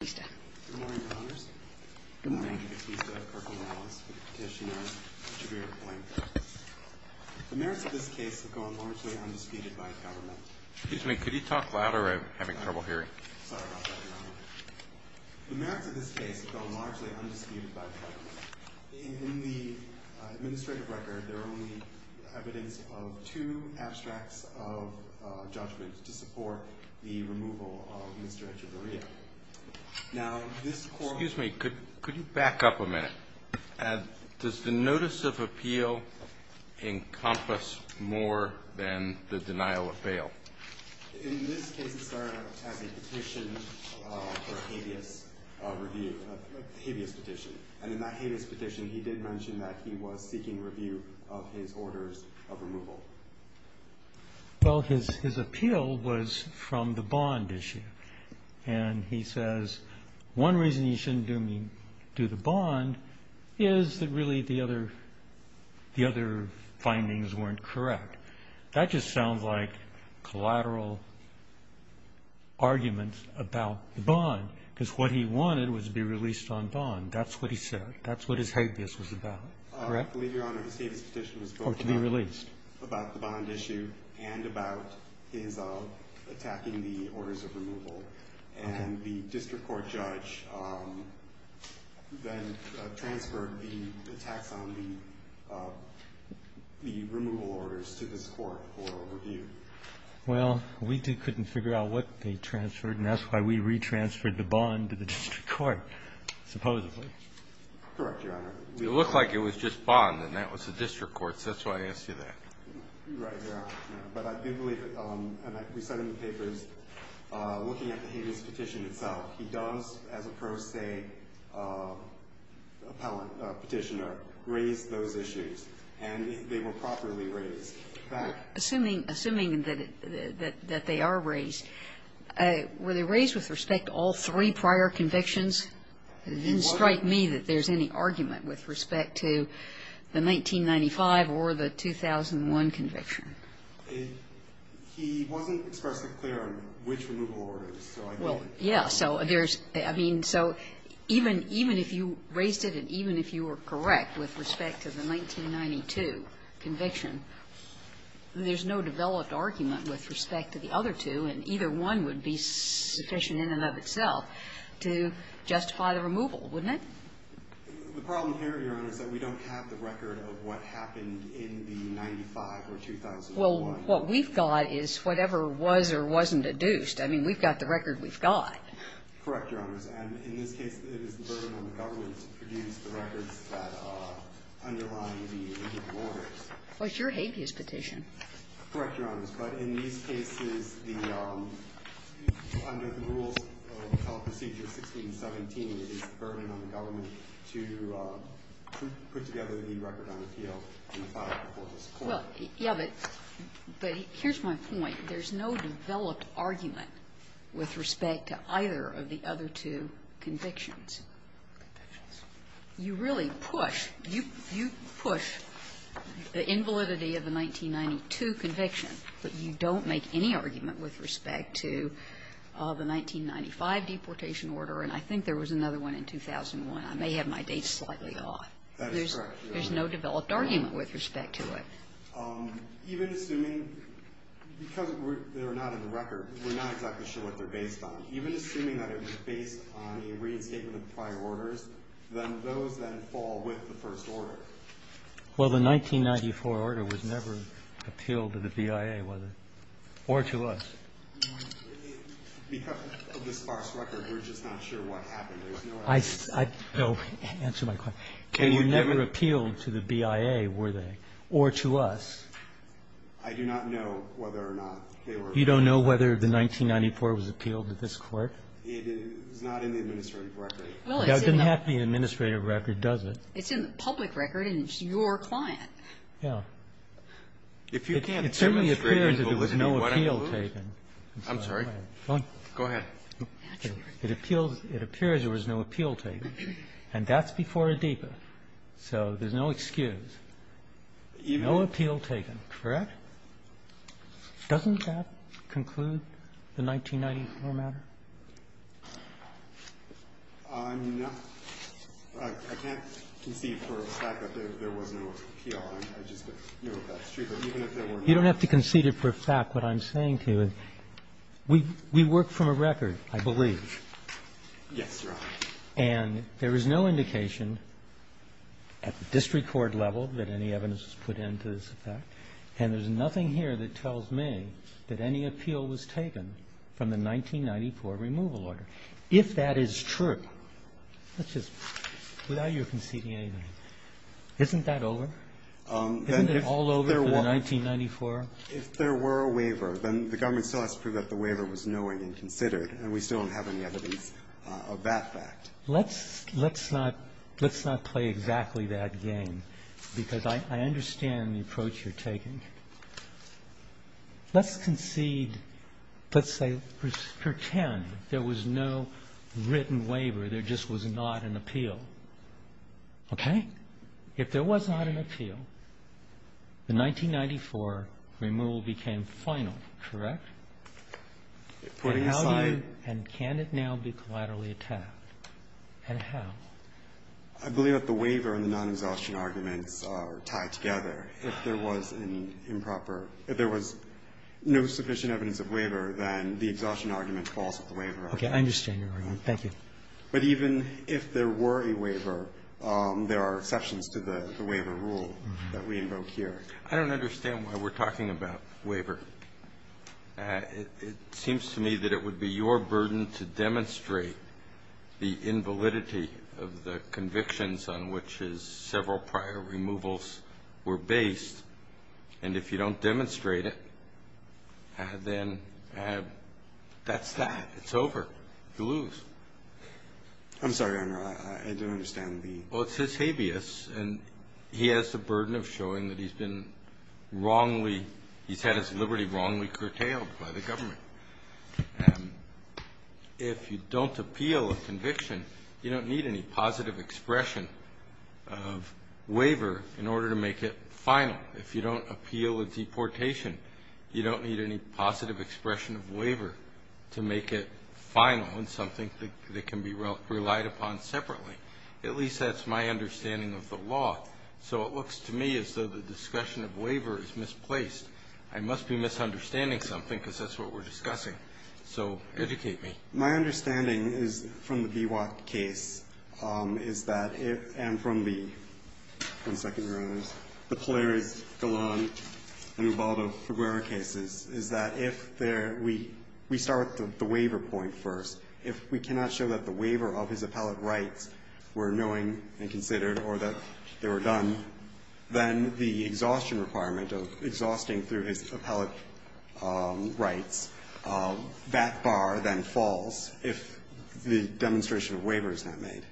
Good morning, Your Honors. The merits of this case have gone largely undisputed by the government. In the administrative record, there are only evidence of two abstracts of judgments to support the removal of Mr. Echeverria. Does the notice of appeal encompass more than the denial of bail? In this case, it started out as a petition for a habeas petition. And in that habeas petition, he did mention that he was seeking review of his orders of removal. Well, his appeal was from the bond issue. And he says, one reason you shouldn't do the bond is that really the other findings weren't correct. That just sounds like collateral arguments about the bond, because what he wanted was to be released on bond. That's what he said. That's what his habeas was about. Correct? I believe, Your Honor, his habeas petition was both about the bond issue and about his attacking the orders of removal. And the district court judge then transferred the attacks on the removal orders to this court for review. Well, we couldn't figure out what they transferred, and that's why we retransferred the bond to the district court, supposedly. Correct, Your Honor. It looked like it was just bond, and that was the district court, so that's why I asked you that. Right, Your Honor. But I do believe that we said in the papers, looking at the habeas petition itself, he does, as a pro se appellate petitioner, raise those issues. And they were properly raised. Assuming that they are raised, were they raised with respect to all three prior convictions? It didn't strike me that there's any argument with respect to the 1995 or the 2001 conviction. He wasn't expressly clear on which removal orders. Well, yes. So there's – I mean, so even if you raised it and even if you were correct with respect to the 1992 conviction, there's no developed argument with respect to the other two, and either one would be sufficient in and of itself to justify the removal, wouldn't it? The problem here, Your Honor, is that we don't have the record of what happened in the 1995 or 2001. Well, what we've got is whatever was or wasn't adduced. I mean, we've got the record we've got. Correct, Your Honor. And in this case, it is the burden on the government to produce the records that underline the warrants. Correct, Your Honor. But in these cases, the – under the rules of the Teleprocedure 1617, it is the burden on the government to put together the record on appeal in the file before this Court. Well, yes, but here's my point. There's no developed argument with respect to either of the other two convictions. Convictions. You really push – you push the invalidity of the 1992 conviction, but you don't make any argument with respect to the 1995 deportation order, and I think there was another one in 2001. I may have my dates slightly off. That is correct, Your Honor. There's no developed argument with respect to it. Even assuming – because they're not in the record, we're not exactly sure what they're based on. Even assuming that it was based on a reinstatement of prior orders, then those then fall with the first order. Well, the 1994 order was never appealed to the BIA, was it? Or to us? Because of the sparse record, we're just not sure what happened. There was no evidence. I – no, answer my question. And you never appealed to the BIA, were they? Or to us? I do not know whether or not they were – You don't know whether the 1994 was appealed to this Court? It is not in the administrative record. Well, it's in the – It doesn't have to be in the administrative record, does it? It's in the public record, and it's your client. Yeah. If you can't demonstrate – It certainly appears that there was no appeal taken. I'm sorry. Go ahead. Naturally. It appeals – it appears there was no appeal taken, and that's before a DEPA. So there's no excuse. No appeal taken, correct? Doesn't that conclude the 1994 matter? I'm not – I can't concede for the fact that there was no appeal. I just know that's true. But even if there were no – You don't have to concede it for a fact. What I'm saying to you is we work from a record, I believe. Yes, Your Honor. And there is no indication at the district court level that any evidence was put And there's nothing here that tells me that any appeal was taken from the 1994 removal order. If that is true, let's just – without your conceding anything, isn't that over? Isn't it all over for the 1994? If there were a waiver, then the government still has to prove that the waiver was knowing and considered, and we still don't have any evidence of that fact. Let's not play exactly that game, because I understand the approach you're taking. Let's concede – let's say – pretend there was no written waiver. There just was not an appeal. Okay? If there was not an appeal, the 1994 removal became final, correct? Putting aside – And how do you – and can it now be collaterally attacked? And how? I believe that the waiver and the non-exhaustion arguments are tied together. If there was an improper – if there was no sufficient evidence of waiver, then the exhaustion argument falls with the waiver argument. Okay. I understand your argument. Thank you. But even if there were a waiver, there are exceptions to the waiver rule that we invoke here. I don't understand why we're talking about waiver. It seems to me that it would be your burden to demonstrate the invalidity of the convictions on which his several prior removals were based. And if you don't demonstrate it, then that's that. It's over. You lose. I'm sorry, Your Honor. I don't understand the – Well, it's his habeas, and he has the burden of showing that he's been wrongly – he's had his liberty wrongly curtailed by the government. If you don't appeal a conviction, you don't need any positive expression of waiver in order to make it final. If you don't appeal a deportation, you don't need any positive expression of waiver to make it final and something that can be relied upon separately. At least that's my understanding of the law. So it looks to me as though the discussion of waiver is misplaced. I must be misunderstanding something because that's what we're discussing. So educate me. My understanding is from the Biwak case is that if – and from the – one second, Your Honors. The Polaris, Golan, and Ubaldo Figueroa cases is that if there – we start with the waiver point first. If we cannot show that the waiver of his appellate rights were knowing and considered or that they were done, then the exhaustion requirement of exhausting through his appellate rights, that bar then falls if the demonstration of waiver is not made.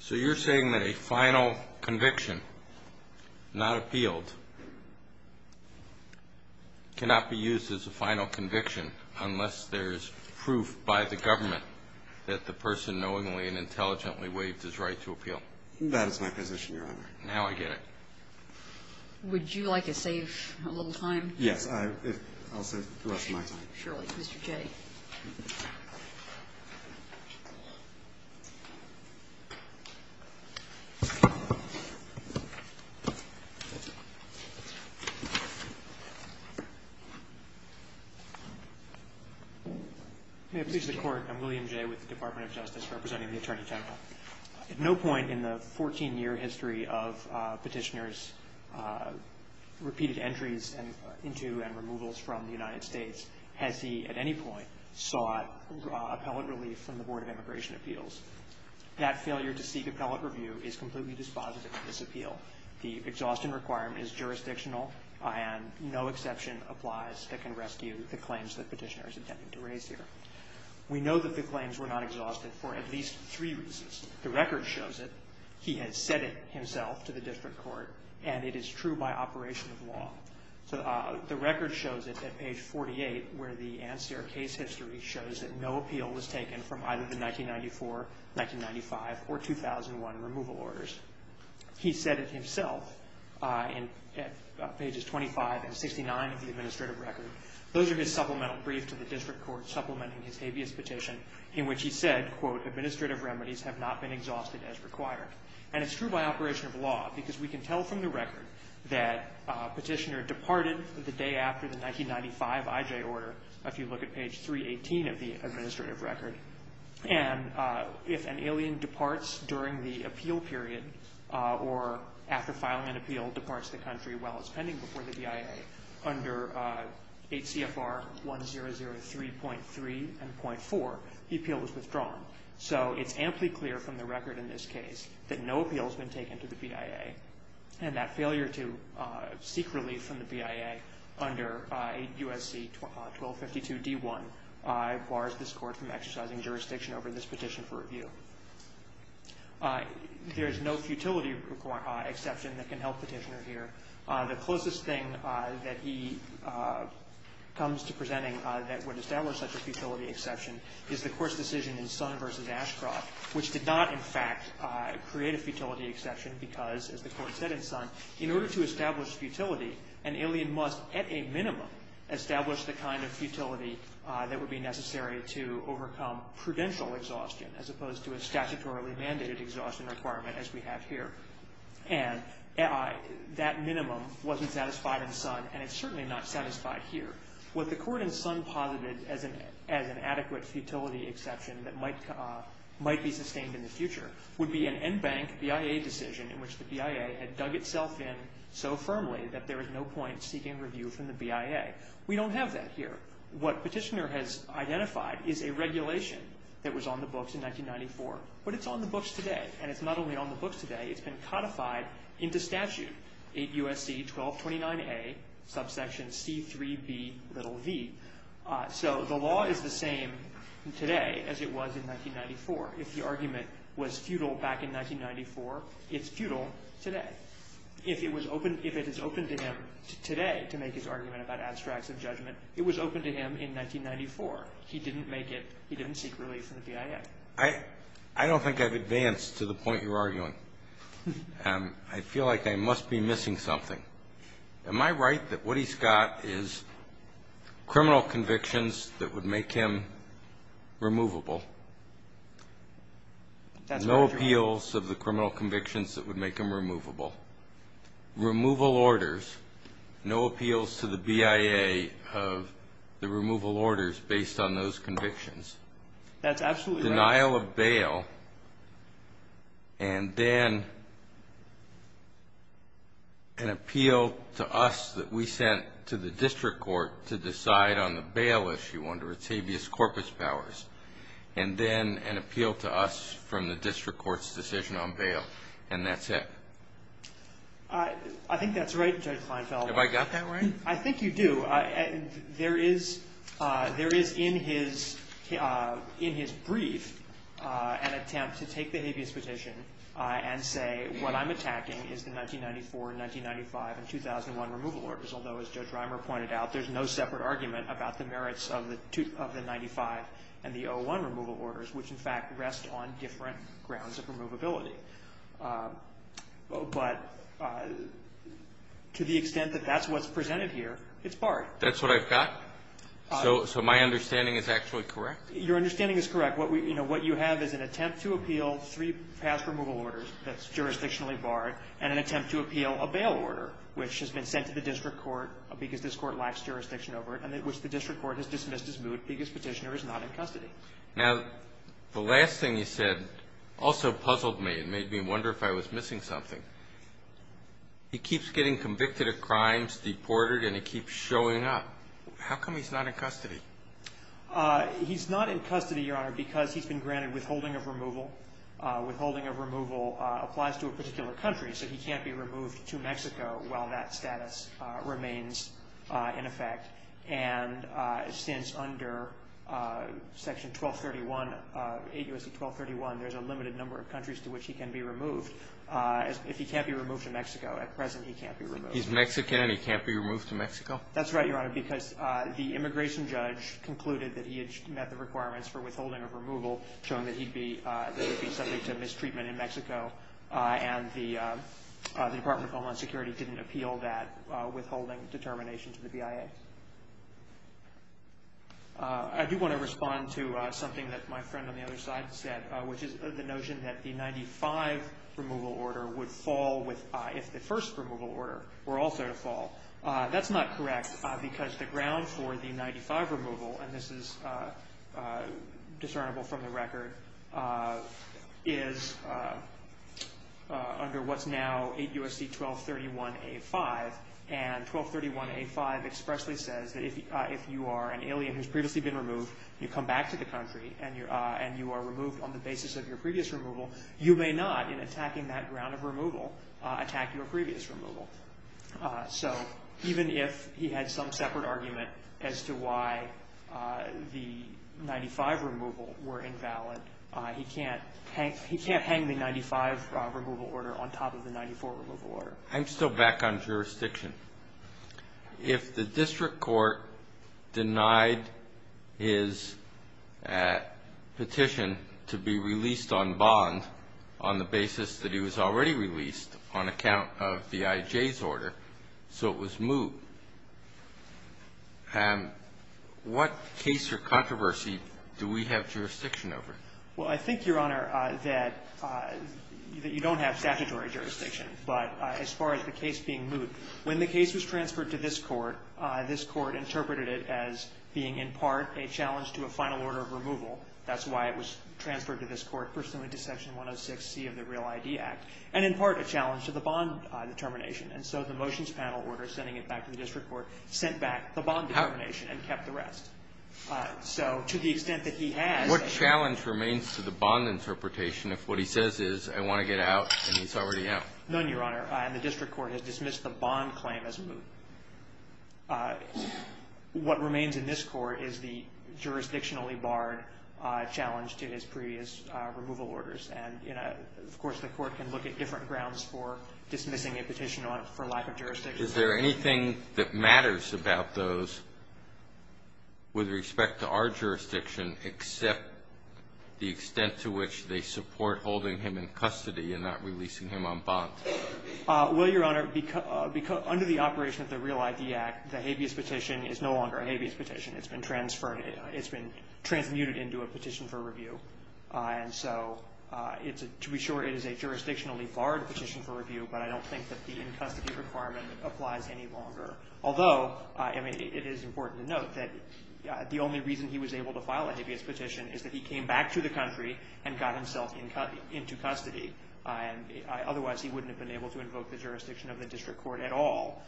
So you're saying that a final conviction not appealed cannot be used as a final conviction unless there's proof by the government that the person knowingly and intelligently waived his right to appeal? That is my position, Your Honor. Now I get it. Would you like to save a little time? Yes. I'll save the rest of my time. Surely, Mr. Jay. May it please the Court. I'm William Jay with the Department of Justice representing the Attorney General. At no point in the 14-year history of petitioners' repeated entries into and removals from the United States has he at any point sought appellate relief from the Board of Immigration Appeals. That failure to seek appellate review is completely dispositive of this appeal. The exhaustion requirement is jurisdictional, and no exception applies that can rescue the claims that petitioner is intending to raise here. We know that the claims were not exhausted for at least three reasons. The record shows it. He has said it himself to the district court, and it is true by operation of law. The record shows it at page 48, where the Anster case history shows that no appeal was taken from either the 1994, 1995, or 2001 removal orders. He said it himself at pages 25 and 69 of the administrative record. Those are his supplemental briefs to the district court supplementing his habeas petition, in which he said, quote, administrative remedies have not been exhausted as required. And it's true by operation of law, because we can tell from the record that petitioner departed the day after the 1995 IJ order, if you look at page 318 of the administrative record. And if an alien departs during the appeal period, or after filing an appeal departs the country while it's pending before the DIA, under 8 CFR 1003.3 and .4, the appeal is withdrawn. So it's amply clear from the record in this case that no appeal has been taken to the BIA, and that failure to seek relief from the BIA under USC 1252 D1 bars this court from exercising jurisdiction over this petition for review. There is no futility exception that can help petitioner here. The closest thing that he comes to presenting that would establish such a futility exception is the court's decision in Sun v. Ashcroft, which did not, in fact, create a futility exception, because, as the court said in Sun, in order to establish futility, an alien must, at a minimum, establish the kind of futility that would be necessary to overcome prudential exhaustion, as opposed to a statutorily mandated exhaustion requirement as we have here. And that minimum wasn't satisfied in Sun, and it's certainly not satisfied here. What the court in Sun posited as an adequate futility exception that might be sustained in the future would be an en banc BIA decision in which the BIA had dug itself in so firmly that there was no point seeking review from the BIA. We don't have that here. What petitioner has identified is a regulation that was on the books in 1994, but it's on the books today. And it's not only on the books today, it's been codified into statute. 8 U.S.C. 1229A, subsection C3bv. So the law is the same today as it was in 1994. If the argument was futile back in 1994, it's futile today. If it is open to him today to make his argument about abstracts of judgment, it was open to him in 1994. He didn't make it. He didn't seek relief from the BIA. I don't think I've advanced to the point you're arguing. I feel like I must be missing something. Am I right that Woody Scott is criminal convictions that would make him removable? No appeals of the criminal convictions that would make him removable. Removal orders, no appeals to the BIA of the removal orders based on those convictions. That's absolutely right. A denial of bail and then an appeal to us that we sent to the district court to decide on the bail issue under its habeas corpus powers. And then an appeal to us from the district court's decision on bail. And that's it. I think that's right, Judge Kleinfeld. Have I got that right? I think you do. There is, in his brief, an attempt to take the habeas petition and say, what I'm attacking is the 1994, 1995, and 2001 removal orders. Although, as Judge Reimer pointed out, there's no separate argument about the merits of the 95 and the 01 removal orders, which, in fact, rest on different grounds of removability. But to the extent that that's what's presented here, it's barred. That's what I've got? So my understanding is actually correct? Your understanding is correct. What you have is an attempt to appeal three past removal orders that's jurisdictionally barred and an attempt to appeal a bail order, which has been sent to the district court because this court lacks jurisdiction over it, and which the district court has dismissed as moot because petitioner is not in custody. Now, the last thing you said also puzzled me and made me wonder if I was missing something. He keeps getting convicted of crimes, deported, and he keeps showing up. How come he's not in custody? He's not in custody, Your Honor, because he's been granted withholding of removal. Withholding of removal applies to a particular country, so he can't be removed to Mexico while that status remains in effect. And since under Section 1231, 8 U.S.C. 1231, there's a limited number of countries to which he can be removed. If he can't be removed to Mexico, at present he can't be removed. He's Mexican and he can't be removed to Mexico? That's right, Your Honor, because the immigration judge concluded that he had met the requirements for withholding of removal, showing that he would be subject to mistreatment in Mexico, and the Department of Homeland Security didn't appeal that withholding determination to the BIA. I do want to respond to something that my friend on the other side said, which is the notion that the 95 removal order would fall if the first removal order were also to fall. That's not correct because the ground for the 95 removal, and this is from the record, is under what's now 8 U.S.C. 1231 A-5, and 1231 A-5 expressly says that if you are an alien who's previously been removed, you come back to the country and you are removed on the basis of your previous removal, you may not, in attacking that ground of removal, attack your previous removal. So even if he had some separate argument as to why the 95 removal were invalid, he can't hang the 95 removal order on top of the 94 removal order. I'm still back on jurisdiction. If the district court denied his petition to be released on bond on the basis that he was already released on account of the IJ's order, so it was moot, what case or controversy do we have jurisdiction over? Well, I think, Your Honor, that you don't have statutory jurisdiction. But as far as the case being moot, when the case was transferred to this Court, this Court interpreted it as being in part a challenge to a final order of removal. That's why it was transferred to this Court, pursuant to Section 106C of the Real I.D. Act, and in part a challenge to the bond determination. And so the motions panel order, sending it back to the district court, sent back the bond determination and kept the rest. So to the extent that he has ---- What challenge remains to the bond interpretation if what he says is, I want to get out, and he's already out? None, Your Honor. And the district court has dismissed the bond claim as moot. What remains in this Court is the jurisdictionally barred challenge to his previous removal orders. And, you know, of course, the Court can look at different grounds for dismissing a petition for lack of jurisdiction. Is there anything that matters about those with respect to our jurisdiction except the extent to which they support holding him in custody and not releasing him on bond? Well, Your Honor, under the operation of the Real I.D. Act, the habeas petition is no longer a habeas petition. It's been transferred. It's been transmuted into a petition for review. And so to be sure, it is a jurisdictionally barred petition for review, but I don't think that the in-custody requirement applies any longer. Although, I mean, it is important to note that the only reason he was able to file a habeas petition is that he came back to the country and got himself into custody. Otherwise, he wouldn't have been able to invoke the jurisdiction of the district court at all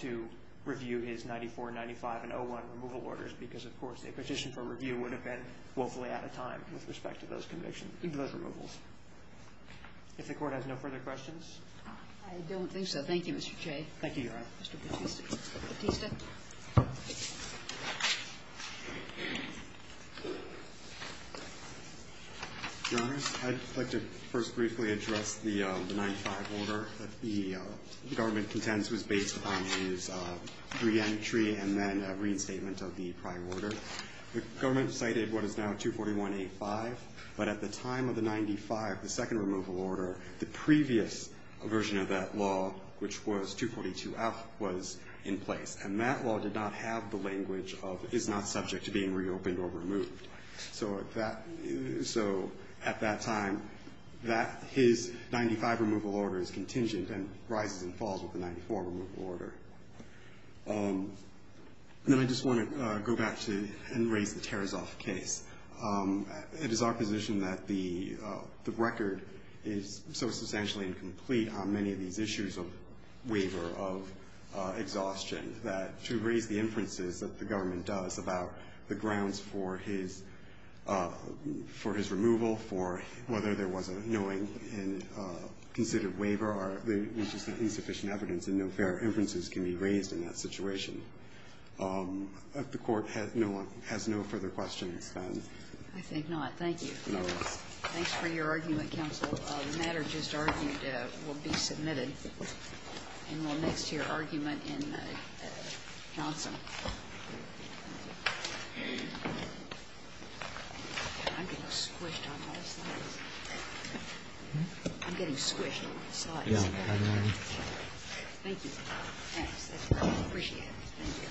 to review his 94, 95, and 01 removal orders because, of course, a petition for review would have been woefully out of time with respect to those removals. If the Court has no further questions. I don't think so. Thank you, Mr. Che. Thank you, Your Honor. Mr. Bautista. Your Honors, I'd like to first briefly address the 95 order that the government contends was based on his reentry and then a reinstatement of the prior order. The government cited what is now 241A.5, but at the time of the 95, the second removal order, the previous version of that law, which was 242F, was in effect in place, and that law did not have the language of is not subject to being reopened or removed. So at that time, his 95 removal order is contingent and rises and falls with the 94 removal order. Then I just want to go back to and raise the Tarasoff case. It is our position that the record is so substantially incomplete on many of these issues of waiver, of exhaustion, that to raise the inferences that the government does about the grounds for his removal, for whether there was a knowing and considered waiver, are insufficient evidence and no fair inferences can be raised in that situation. If the Court has no further questions, then. I think not. Thank you. Thanks for your argument, counsel. The matter just argued will be submitted. And we'll next hear argument in Johnson. I'm getting squished on my slides. I'm getting squished on my slides. Thank you. Thanks. I appreciate it. Thank you.